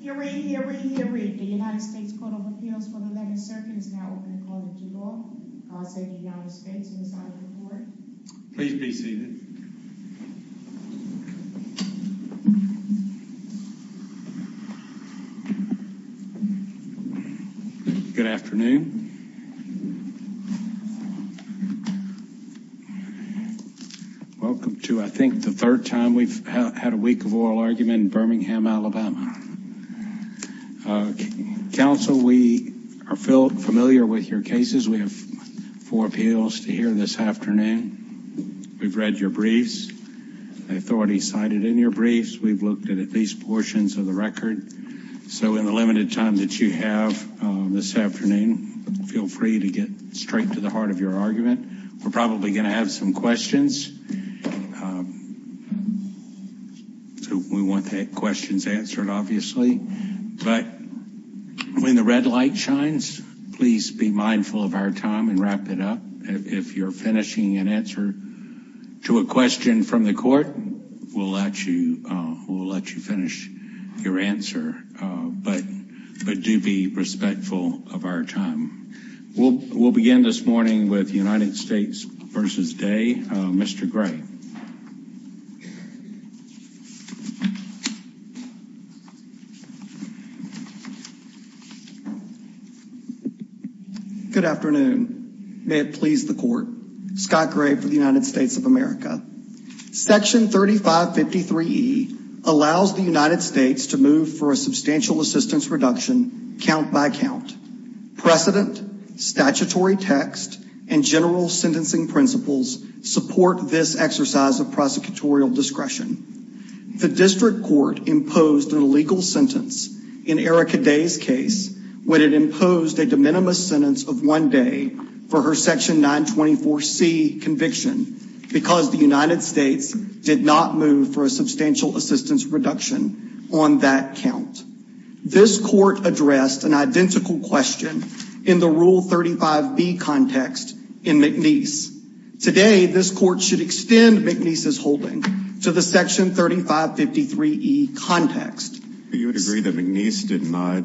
here, read, hear, read, hear, read. The United States Court of Appeals for the legislature is now open to call it too long. I'll say the United States Suicidal Report. Please be seated. Good afternoon. Welcome to, I think the third time we've had a week of oral argument in Birmingham, Alabama. Council, we are familiar with your cases. We have four appeals to hear this afternoon. We've read your briefs. The authority cited in your briefs. We've looked at at least portions of the record. So in the limited time that you have this afternoon, feel free to get straight to the heart of your argument. We're probably going to have some questions. Um, so we want that questions answered, obviously. But when the red light shines, please be mindful of our time and wrap it up. If you're finishing an answer to a question from the court, we'll let you. We'll let you finish your answer. But but do be respectful of our time. We'll begin this morning with United States versus Day. Mr Gray. Good afternoon. May it please the court. Scott Gray for the United States of America. Section 35 53 E allows the United States to move for a substantial assistance reduction. Count by count precedent, statutory text and general sentencing principles support this exercise of prosecutorial discretion. The district court imposed an illegal sentence in Erica Day's case when it imposed a de minimis sentence of one day for her section 9 24 C conviction because the United States did not move for a substantial assistance reduction on that count. This court addressed an identical question in the Rule 35 B context in McNeese. Today, this court should extend McNeese's holding to the Section 35 53 E context. You would agree that McNeese did not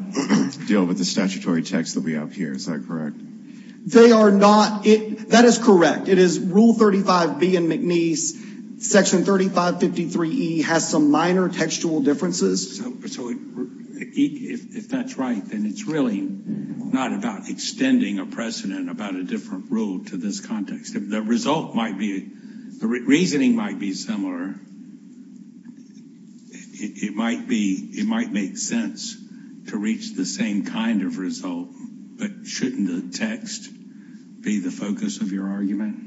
deal with the statutory text that we have here. Is that correct? They are not. That is correct. It is Rule 35 B and McNeese. Section 35 53 E has some minor textual differences. So if that's right, then it's really not about extending a precedent about a different rule to this context. The result might be the reasoning might be similar. It might be. It might make sense to reach the same kind of result. But shouldn't the text be the focus of your argument?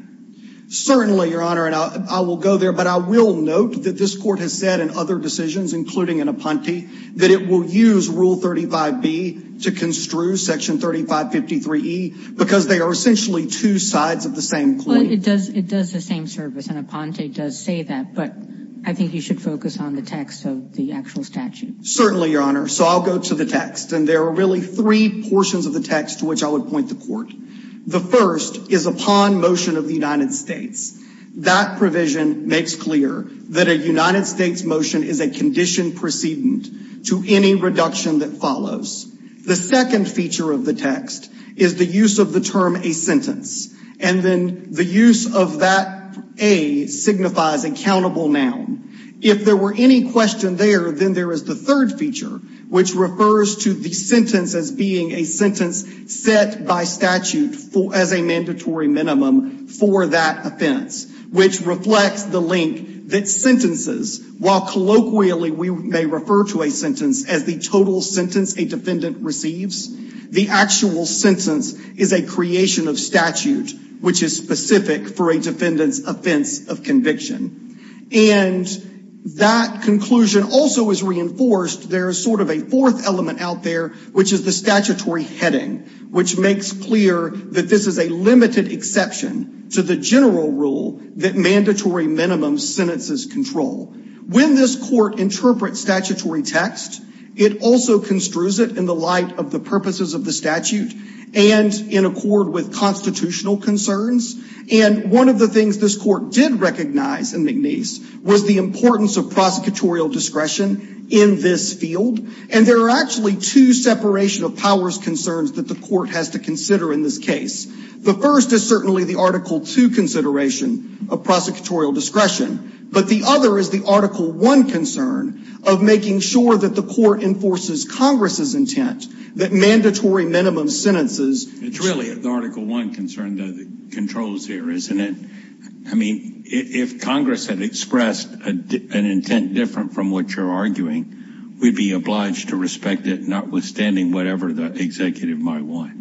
Certainly, Your Honor. And I will go there. But I will note that this court has said in other decisions, including in Aponte, that it will use Rule 35 B to construe Section 35 53 E because they are essentially two sides of the same coin. It does. It does the same service. And Aponte does say that. But I think you should focus on the text of the actual statute. Certainly, Your Honor. So I'll go to the text. And there are really three portions of the text to which I would point the court. The first is upon motion of the United States. That provision makes clear that a United States motion is a condition precedent to any reduction that follows. The second feature of the text is the use of the term a sentence. And then the use of that A signifies a countable noun. If there were any question there, then there is the third feature, which refers to the sentence as being a sentence set by statute as a mandatory minimum for that offense, which reflects the link that sentences while colloquially we may refer to a sentence as the total sentence a defendant receives. The actual sentence is a creation of statute, which is specific for a defendant's offense of conviction. And that conclusion also is reinforced. There is sort of a fourth element out there, which is the statutory heading, which makes clear that this is a limited exception to the general rule that mandatory minimum sentences control. When this court interprets statutory text, it also construes it in the light of the purposes of the statute and in accord with constitutional concerns. And one of the things this court did recognize in McNeese was the importance of prosecutorial discretion in this field. And there are actually two separation of powers concerns that the court has to consider in this case. The first is certainly the Article two consideration of prosecutorial discretion. But the other is the Article one concern of making sure that the court enforces Congress's intent that mandatory minimum sentences. It's really the Article one concern that controls here, isn't it? I mean, if Congress had expressed an intent different from what you're arguing, we'd be obliged to respect it, notwithstanding whatever the executive might want.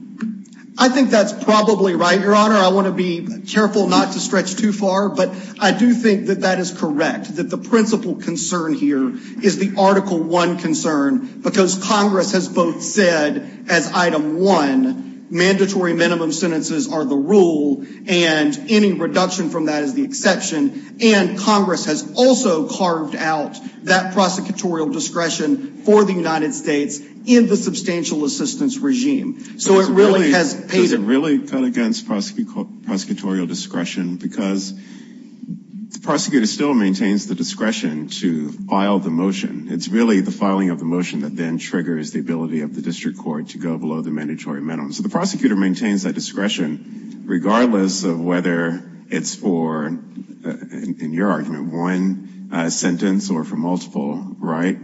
I think that's probably right, Your Honor. I want to be careful not to stretch too far, but I do think that that is correct, that the principal concern here is the Article one concern because Congress has both said as item one mandatory minimum sentences are the rule and any reduction from that is the exception. And Congress has also carved out that prosecutorial discretion for the United States in the substantial assistance regime. So it really has paid it really cut against prosecutorial discretion because the prosecutor still maintains the discretion to file the motion. It's really the filing of the motion that then triggers the ability of the district court to go below the mandatory minimum. So the prosecutor maintains that discretion regardless of whether it's for, in your argument, one sentence or for multiple, right?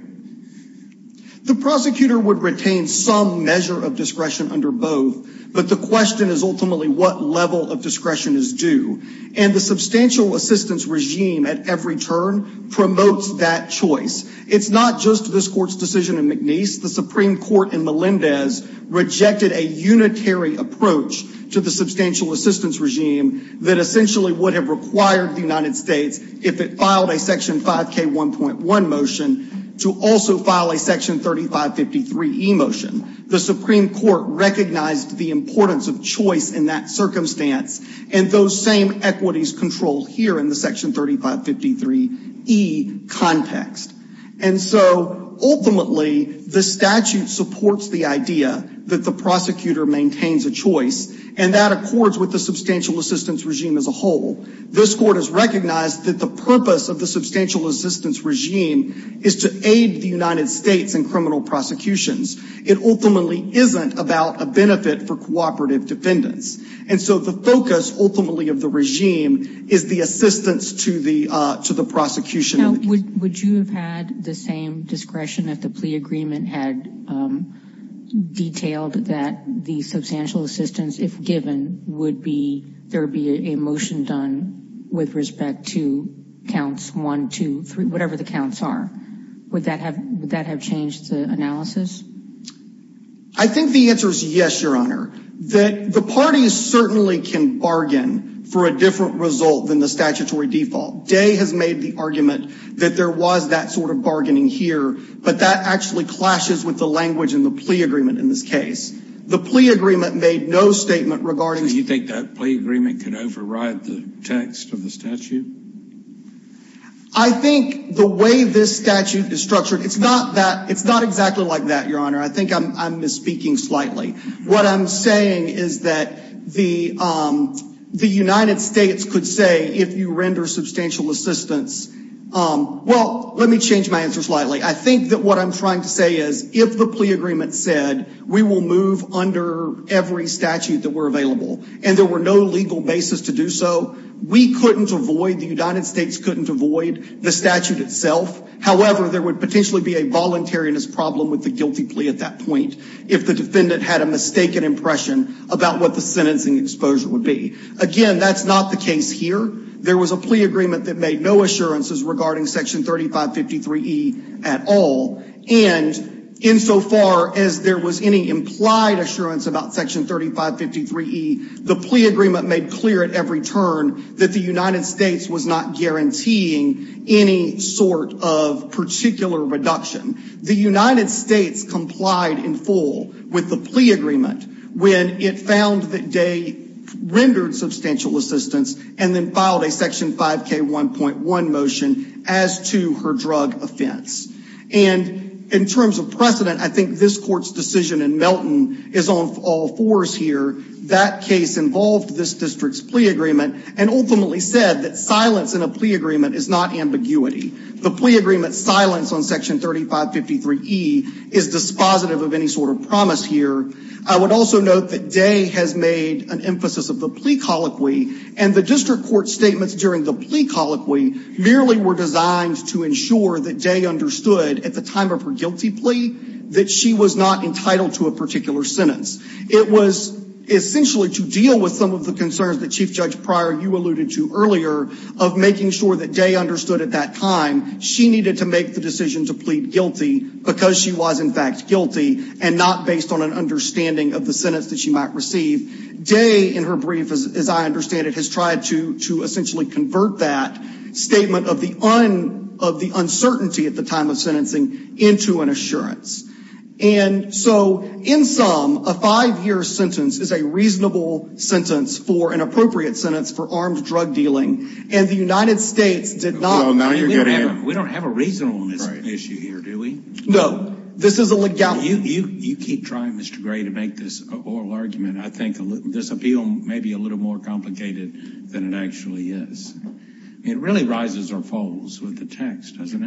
The prosecutor would retain some measure of discretion under both, but the question is ultimately what level of discretion is due. And the substantial assistance regime at every turn promotes that choice. It's not just this court's decision in McNeese. The Supreme Court in Melendez rejected a unitary approach to the substantial assistance regime that essentially would have required the United States if it filed a section 5k 1.1 motion to also file a section 3553 e motion. The Supreme Court recognized the importance of choice in that circumstance and those same equities controlled here in the section 3553 e context. And so ultimately the statute supports the idea that the prosecutor maintains a choice and that accords with the substantial assistance regime as a whole. This court has recognized that the purpose of the substantial assistance regime is to aid the United States in criminal prosecutions. It ultimately isn't about a benefit for cooperative defendants. And so the focus ultimately of the regime is the assistance to the prosecution. Would you have had the same discretion if the plea agreement had detailed that the substantial assistance, if given, would be, there would be a motion done with respect to counts 1, 2, 3, whatever the counts are. Would that have, would that have changed the analysis? I think the answer is yes, Your Honor. That the parties certainly can bargain for a different result than the statutory default. Day has made the argument that there was that sort of bargaining here, but that actually clashes with the language in the plea agreement in this case. The plea agreement made no statement regarding. You think that plea agreement could override the text of the statute? I think the way this statute is structured, it's not that, it's not exactly like that, Your Honor. I think I'm misspeaking slightly. What I'm saying is that the the United States could say if you render substantial assistance, well, let me change my answer slightly. I think that what I'm trying to say is if the plea agreement said we will move under every statute that were available and there were no legal basis to do so, we couldn't avoid, the United States couldn't avoid the statute itself. However, there would potentially be a voluntariness problem with the guilty plea at that point if the defendant had a mistaken impression about what the sentencing exposure would be. Again, that's not the case here. There was a plea agreement that made no assurances regarding section 3553 E at all and insofar as there was any implied assurance about section 3553 E, the plea agreement made clear at every turn that the United States was not guaranteeing any sort of particular reduction. The United States complied in full with the plea agreement when it found that they as to her drug offense. And in terms of precedent, I think this court's decision in Melton is on all fours here. That case involved this district's plea agreement and ultimately said that silence in a plea agreement is not ambiguity. The plea agreement silence on section 3553 E is dispositive of any sort of promise here. I would also note that Day has made an emphasis of the plea colloquy and the court statements during the plea colloquy merely were designed to ensure that Day understood at the time of her guilty plea that she was not entitled to a particular sentence. It was essentially to deal with some of the concerns that Chief Judge Pryor you alluded to earlier of making sure that Day understood at that time she needed to make the decision to plead guilty because she was in fact guilty and not based on an understanding of the sentence that she might receive. Day in her brief, as I understand it, has tried to essentially convert that statement of the uncertainty at the time of sentencing into an assurance. And so, in sum, a five-year sentence is a reasonable sentence for an appropriate sentence for armed drug dealing and the United States did not. We don't have a reason on this issue here, do we? No, this is a legality. You keep trying, Mr. Gray, to make this oral argument. I think this appeal may be a little more complicated than it actually is. It really rises or falls with the text, doesn't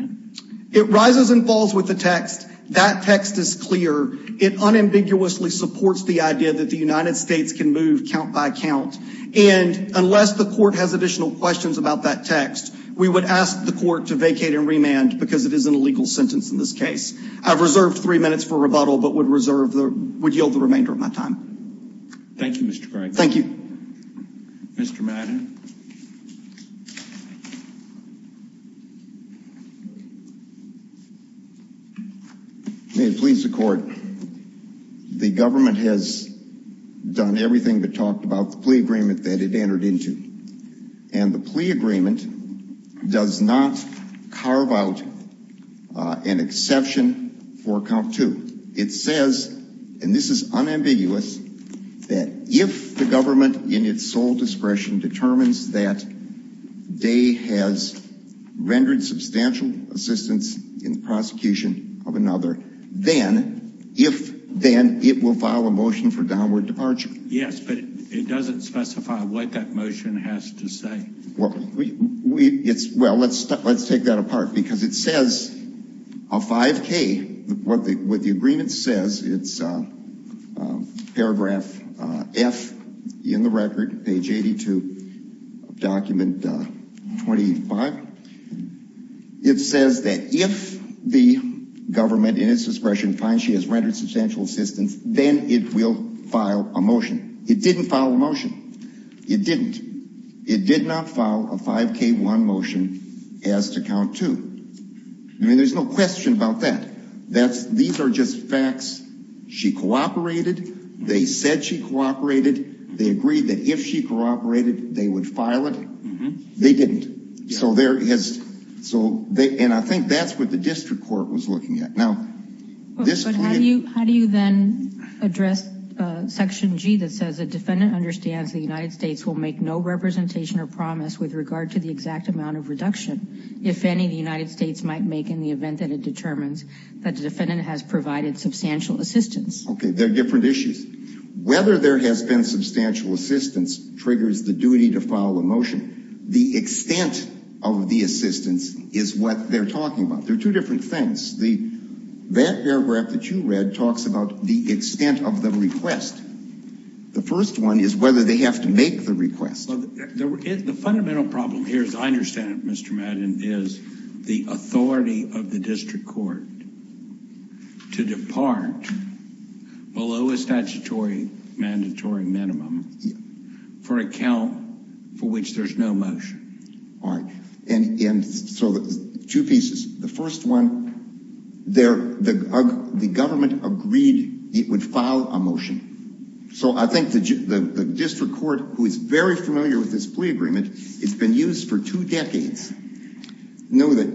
it? It rises and falls with the text. That text is clear. It unambiguously supports the idea that the United States can move count by count and unless the court has additional questions about that text, we would ask the court to vacate and remand because it is an illegal sentence in this case. I've reserved three minutes for rebuttal but would yield the remainder of my time. Thank you, Mr. Gray. Thank you. Mr. Madden. May it please the court. The government has done everything but talked about the plea agreement that it entered into and the plea agreement does not carve out an exception for count two. It says, and this is unambiguous, that if the government in its sole discretion determines that they has rendered substantial assistance in the prosecution of another, then, if then, it will file a motion for downward departure. Yes, but it doesn't specify what that motion has to say. Well, let's take that apart because it says a 5k, what the agreement says, it's paragraph F in the record, page 82 of document 25. It says that if the government in its discretion finds she has rendered substantial assistance, then it will file a motion. It didn't file a motion. It didn't. It did not file a 5k1 motion as to count two. I mean, there's no question about that. That's, these are just facts. She cooperated. They said she cooperated. They agreed that if she cooperated, they would file it. They didn't. So there is, so they, and I think that's what the district court was looking at. Now, how do you then address section G that says a defendant understands the United States will make no representation or promise with regard to the exact amount of reduction, if any, the United States might make in the event that it determines that the defendant has provided substantial assistance? Okay, they're different issues. Whether there has been substantial assistance triggers the duty to file a motion. The extent of the assistance is what they're talking about. They're two different things. The, that paragraph that you read talks about the extent of the request. The first one is whether they have to make the request. The fundamental problem here, as I understand it, Mr. Madden, is the authority of the district court to depart below a statutory mandatory minimum for a count for which there's no motion. All right, and so two pieces. The first one, there, the government agreed it would file a motion. So I think that the district court, who is very familiar with this plea agreement, it's been used for two decades, know that,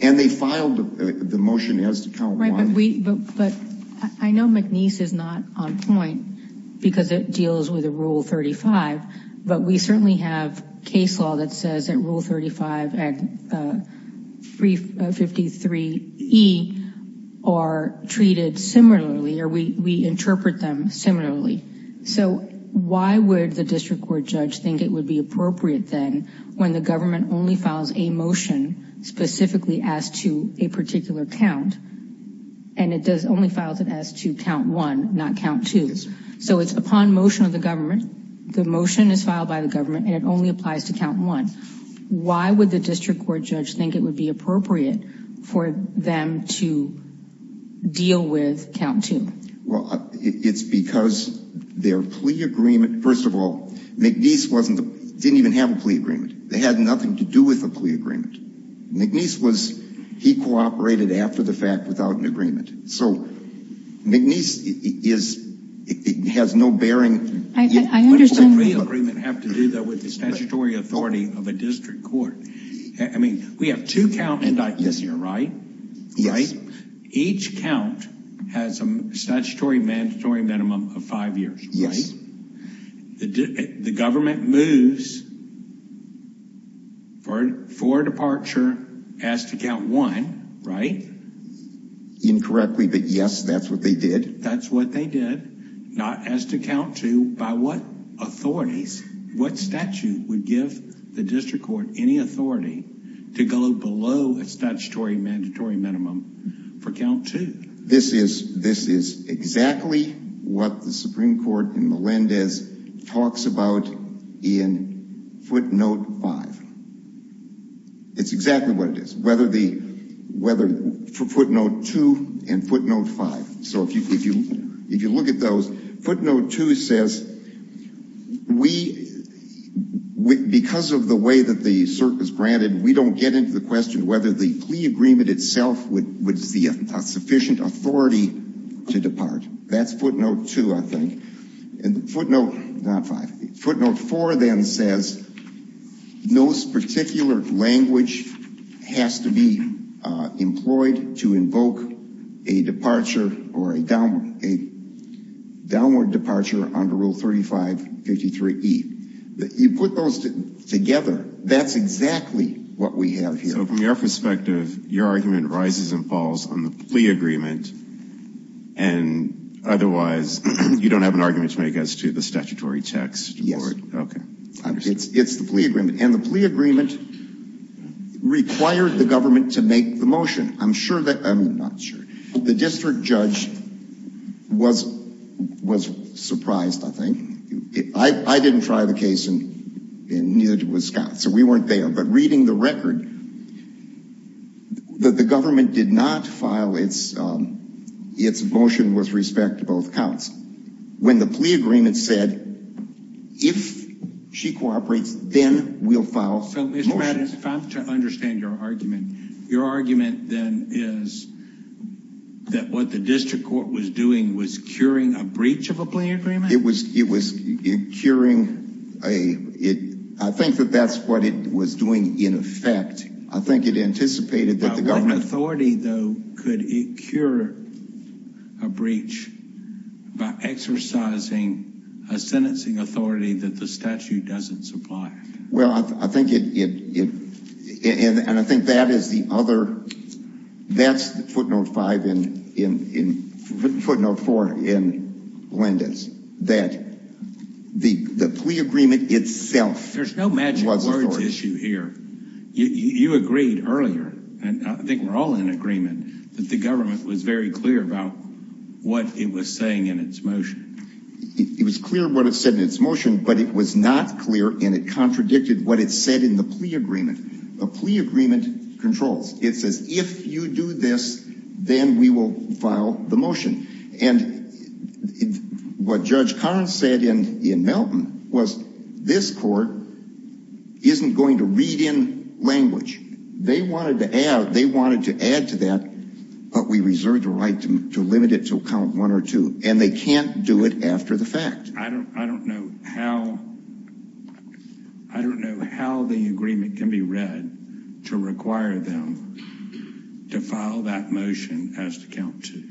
and they filed the motion as to count. Right, but we, but I know McNeese is not on point because it deals with a Rule 35, but we certainly have case law that says that Rule 35 and 353e are treated similarly, or we interpret them similarly. So why would the district court judge think it would be appropriate, then, when the government only files a motion specifically as to a particular count, and it does only files it as to count one, not count twos. So it's upon motion of the government, the motion is filed by the government, and it only applies to count one. Why would the district court judge think it would be appropriate for them to deal with count two? Well, it's because their plea agreement, first of all, McNeese wasn't, didn't even have a plea agreement. They had nothing to do with a plea agreement. McNeese was, he cooperated after the fact without an agreement. So McNeese is, it has no bearing. I understand the plea agreement has to do with the statutory authority of a district court. I mean, we have two count indictments here, right? Yes. Each count has a statutory mandatory minimum of five years, right? Yes. The government moves for departure as to count one, right? Incorrectly, but yes, that's what they did. That's what they did, not as to count two. By what authorities, what statute would give the district court any authority to go below a statutory mandatory minimum for count two? This is, this is exactly what the Supreme Court in Melendez talks about in footnote five. It's exactly what it is. Whether the, whether footnote two and footnote five. So if you, if you, if you look at those, footnote two says we, because of the way that the cert is granted, we don't get into the question whether the plea agreement itself would be a sufficient authority to depart. That's footnote two, I think. And footnote, not five, footnote four then says those particular language has to be employed to invoke a departure or a downward, a downward departure under rule 3553 E. You put those together, that's exactly what we have here. So from your perspective, your argument rises and falls on the plea agreement and otherwise you don't have an argument to make as to the statutory text? Yes. Okay. It's, it's the plea agreement and the plea agreement required the government to make the motion. I'm sure that, I'm not sure, the district judge was, was surprised, I think. I didn't try the case in, in New York Wisconsin, so we weren't there. But reading the record, the government did not file its, its motion with respect to both counts. When the plea agreement said, if she cooperates, then we'll file motions. So Mr. Madden, if I'm to understand your argument, your argument then is that what the district court was doing was curing a breach of a plea agreement? It was, it was curing a, it, I think that that's what it was doing in effect. I think it anticipated that the government... But what authority, though, could it cure a breach by exercising a sentencing authority that the statute doesn't supply? Well, I think it, it, it, and I think that is the other, that's the footnote five in, in, in footnote four in Glenda's, that the, the plea agreement itself... There's no magic words issue here. You, you agreed earlier, and I think we're all in agreement, that the government was very clear about what it was saying in its motion. It was clear what it said in its motion, but it was not clear, and it contradicted what it said in the plea agreement. The plea agreement controls. It says, if you do this, then we will file the motion. And what Judge Karnes said in, in Melton was, this court isn't going to read in language. They wanted to add, they wanted to add to that, but we reserve the right to limit it to count one or two, and they can't do it after the fact. I don't, I don't know how, I don't know how the agreement can be read to require them to file that motion as to count two.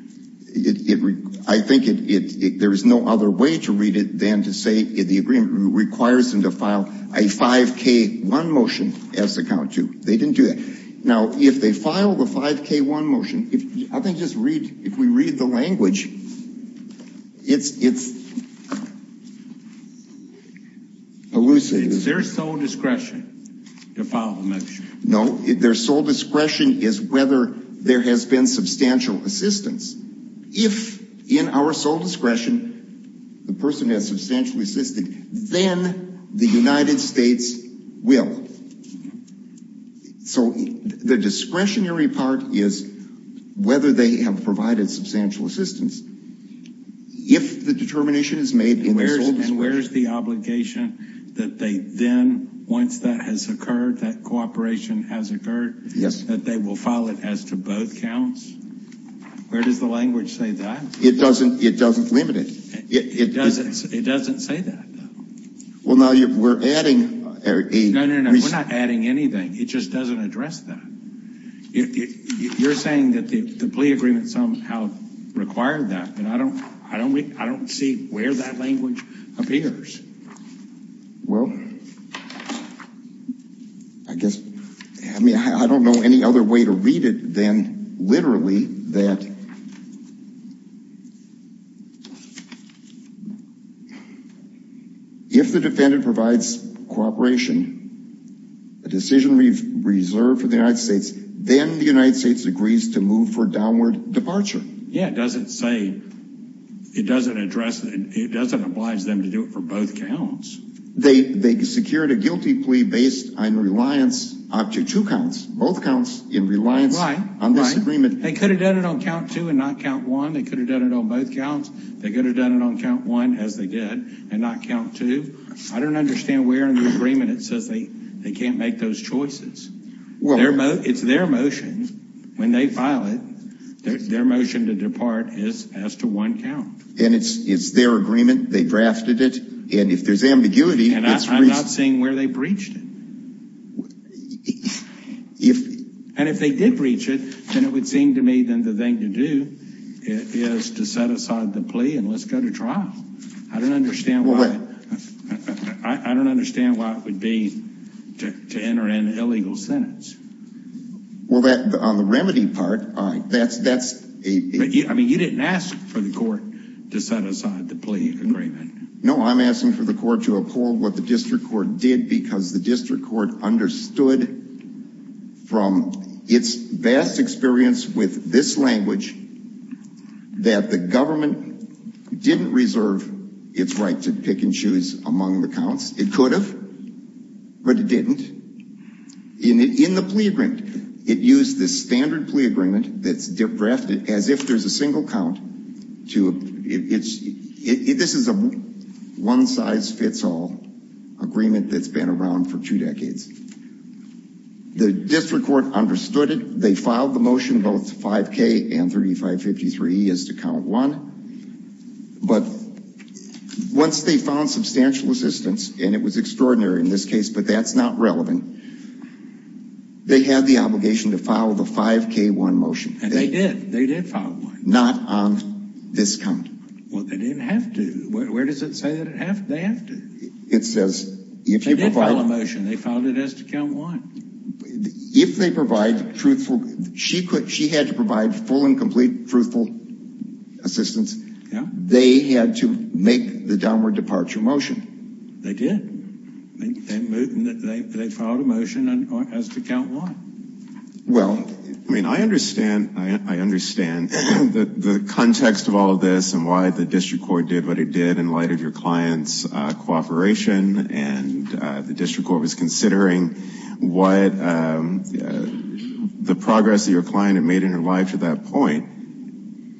It, it, I think it, it, there is no other way to read it than to say, in the agreement, requires them to file a 5k1 motion as to count two. They didn't do that. Now, if they file the 5k1 motion, if, I think, just read, if we read the language, it's, it's elusive. Is there sole discretion to file the motion? No. Their sole discretion is whether there has been substantial assistance. If, in our sole discretion, there has been substantial assistance, then the United States will. So, the discretionary part is whether they have provided substantial assistance. If the determination is made in their sole discretion. And where's the obligation that they then, once that has occurred, that cooperation has occurred, that they will file it as to both counts? Where does the language say that? It doesn't, it doesn't limit it. It doesn't, it doesn't say that. Well, now, you're, we're adding a... No, no, no, we're not adding anything. It just doesn't address that. You're saying that the plea agreement somehow required that, and I don't, I don't, I don't see where that language appears. Well, I guess, I mean, I don't know any other way to read it than, literally, that if the defendant provides cooperation, a decision we've reserved for the United States, then the United States agrees to move for downward departure. Yeah, it doesn't say, it doesn't address, it doesn't oblige them to do it for both counts. They, they secured a guilty plea based on reliance up to two counts, both counts, in reliance on this agreement. They could have done it on count two and not count one. They could have done it on both counts. They could have done it on count one, as they did, and not count two. I don't understand where in the agreement it says they, they can't make those choices. Well, it's their motion, when they file it, their motion to depart is as to one count. And it's, it's their agreement, they drafted it, and if there's ambiguity, it's... And I'm not seeing where they breached it. If... And if they did breach it, then it would seem to me, then, the thing to do is to set aside the plea and let's go to trial. I don't understand why, I don't understand why it would be to enter an illegal sentence. Well, that, on the remedy part, all right, that's, that's a... I mean, you didn't ask for the court to set aside the plea agreement. No, I'm asking for the court to uphold what the district court did, because the district court understood from its vast experience with this language that the government didn't reserve its right to pick and choose among the counts. It could have, but it didn't. In the plea agreement, it used this standard plea agreement that's drafted as if there's a single count to... This is a one-size-fits-all agreement that's been around for two decades. The district court understood it. They filed the motion, both 5K and 3553, as to count one. But once they found substantial assistance, and it was extraordinary in this case, but that's not relevant, they had the obligation to file the 5K-1 motion. And they did, they did file one. Not on this count. Well, they didn't have to. Where does it say that they have to? It says, if you provide... They did file a motion, they filed it as to count one. If they provide truthful... She could, she had to provide full and complete truthful assistance. Yeah. They had to make the downward departure motion. They did. They filed a motion as to count one. Well, I mean, I understand the context of all of this and why the district court did what it did in light of your client's cooperation, and the district court was considering what the progress of your client had made in her life to that point.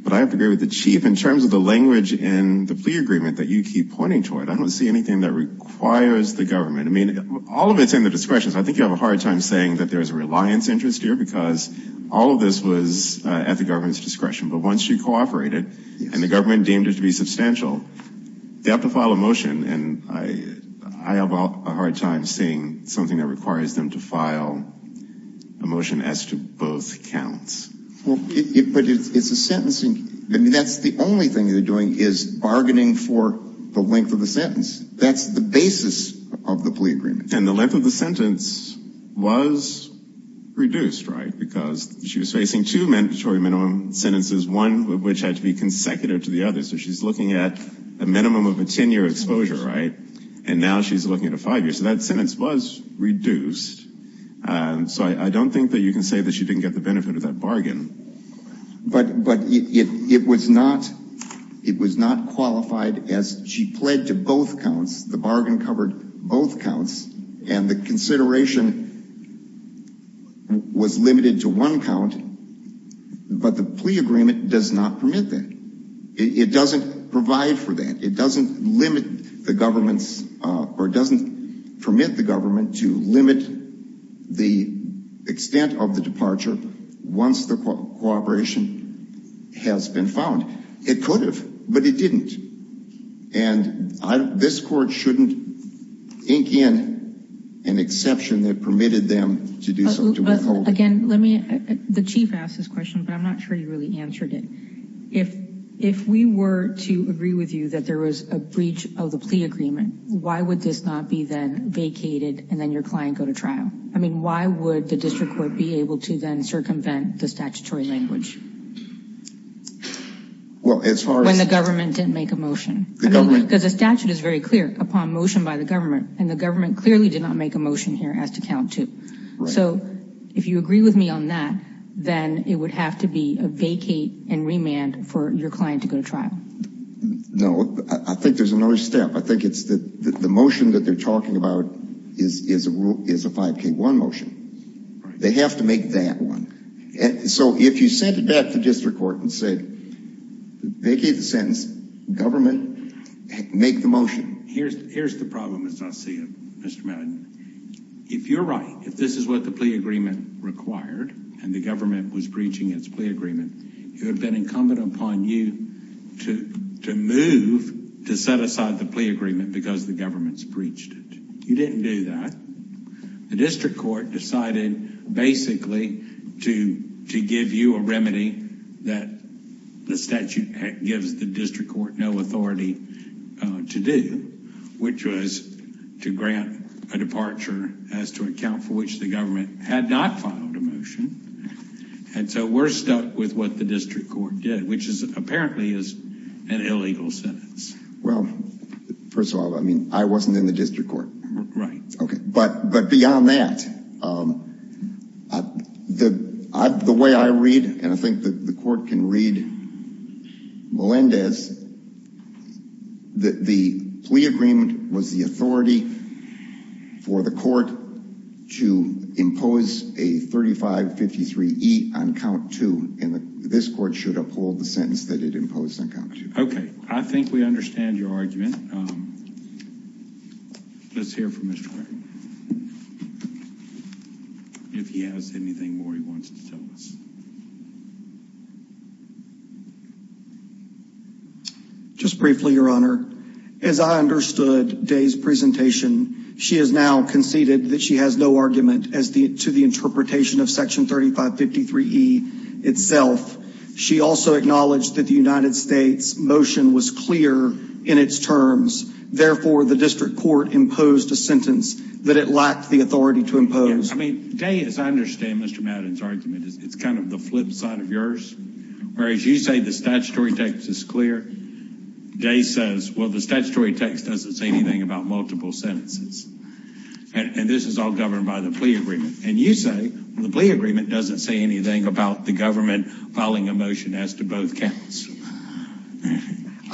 But I have to agree with the chief in terms of the language in the plea agreement that you keep pointing toward. I don't see anything that requires the government. I mean, all of it's in the discretion. I think you have a hard time saying that there's a reliance interest here because all of this was at the government's discretion. But once you cooperated, and the government deemed it to be substantial, they have to file a motion. And I have a hard time seeing something that requires them to file a motion as to both counts. Well, but it's a sentencing... That's the only thing they're doing is bargaining for the length of the sentence. That's the basis of the plea agreement. And the length of the sentence was reduced, right? Because she was facing two mandatory minimum sentences, one of which had to be consecutive to the other. So she's looking at a minimum of a 10-year exposure, right? And now she's looking at a five-year. So that sentence was reduced. So I don't think that you can say that she didn't get the benefit of that bargain. But it was not qualified as she pled to both counts. The bargain covered both counts. And the consideration was limited to one count. But the plea agreement does not permit that. It doesn't provide for that. It doesn't limit the government's... Or doesn't permit the government to limit the extent of the departure once the cooperation has been found. It could have, but it didn't. And this court shouldn't ink in an exception that permitted them to withhold it. Again, let me... The chief asked this question, but I'm not sure he really answered it. If we were to agree with you that there was a breach of the plea agreement, why would this not be then vacated and then your client go to trial? I mean, why would the district court be able to then circumvent the statutory language? Well, as far as... When the government didn't make a motion. The government... Because the statute is very clear upon motion by the government, and the government clearly did not make a motion here as to count to. So if you agree with me on that, then it would have to be a vacate and remand for your client to go to trial. No, I think there's another step. I think what you're talking about is a 5K1 motion. They have to make that one. So if you sent it back to district court and said, vacate the sentence, government make the motion. Here's the problem as I see it, Mr. Madden. If you're right, if this is what the plea agreement required and the government was breaching its plea agreement, it would have been incumbent upon you to move to set aside the agreement because the government's breached it. You didn't do that. The district court decided basically to give you a remedy that the statute gives the district court no authority to do, which was to grant a departure as to account for which the government had not filed a motion. And so we're stuck with what the district court did, which is apparently is an illegal sentence. Well, first of all, I mean, I wasn't in the district court. Right. Okay. But beyond that, the way I read, and I think that the court can read Melendez, that the plea agreement was the authority for the court to impose a 3553E on count two. This court should uphold the sentence that it imposed on count two. Okay. I think we understand your argument. Let's hear from Mr. Gray if he has anything more he wants to tell us. Just briefly, your honor, as I understood Day's presentation, she has now conceded that she has no argument as to the interpretation of section 3553E itself. She also acknowledged that the United States motion was clear in its terms. Therefore, the district court imposed a sentence that it lacked the authority to impose. I mean, Day, as I understand Mr. Madden's argument, it's kind of the flip side of yours. Whereas you say the statutory text is clear. Day says, well, the statutory text doesn't say anything about multiple sentences. And this is all governed by the plea agreement. And you say the plea agreement doesn't say anything about the government filing a motion as to both counts.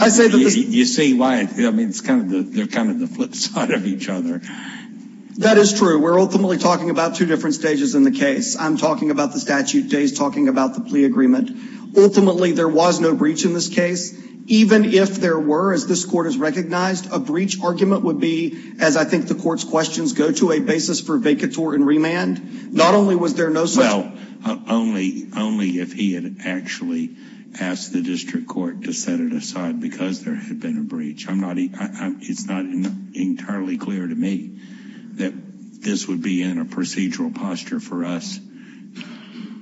You see why? I mean, it's kind of the flip side of each other. That is true. We're ultimately talking about two different stages in the case. I'm talking about the statute. Day's talking about the plea agreement. Ultimately, there was no breach in this case. Even if there were, as this court has recognized, a breach argument would be, as I think the court's questions go, to a basis for vacatur and remand. Not only was there no such... Well, only if he had actually asked the district court to set it aside because there had been a breach. It's not entirely clear to me that this would be in a procedural posture for us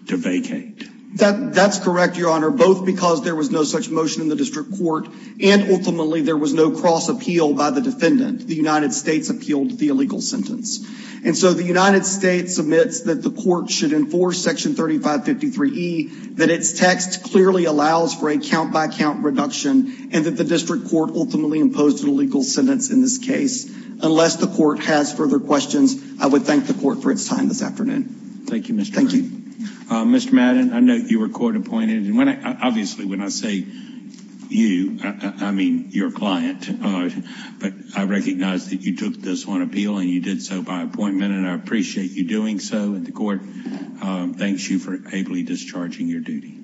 to vacate. That's correct, Your Honor. Both because there was no such motion in the district court. And ultimately, there was no cross appeal by the defendant. The United States appealed the illegal sentence. And so the United States admits that the court should enforce Section 3553E, that its text clearly allows for a count-by-count reduction, and that the district court ultimately imposed an illegal sentence in this case. Unless the court has further questions, I would thank the court for its time this afternoon. Thank you, Mr. Madden. Mr. Madden, I note you were court appointed. Obviously, when I say you, I mean your client. But I recognize that you took this on appeal and you did so by appointment, and I appreciate you doing so. And the court thanks you for ably discharging your duty.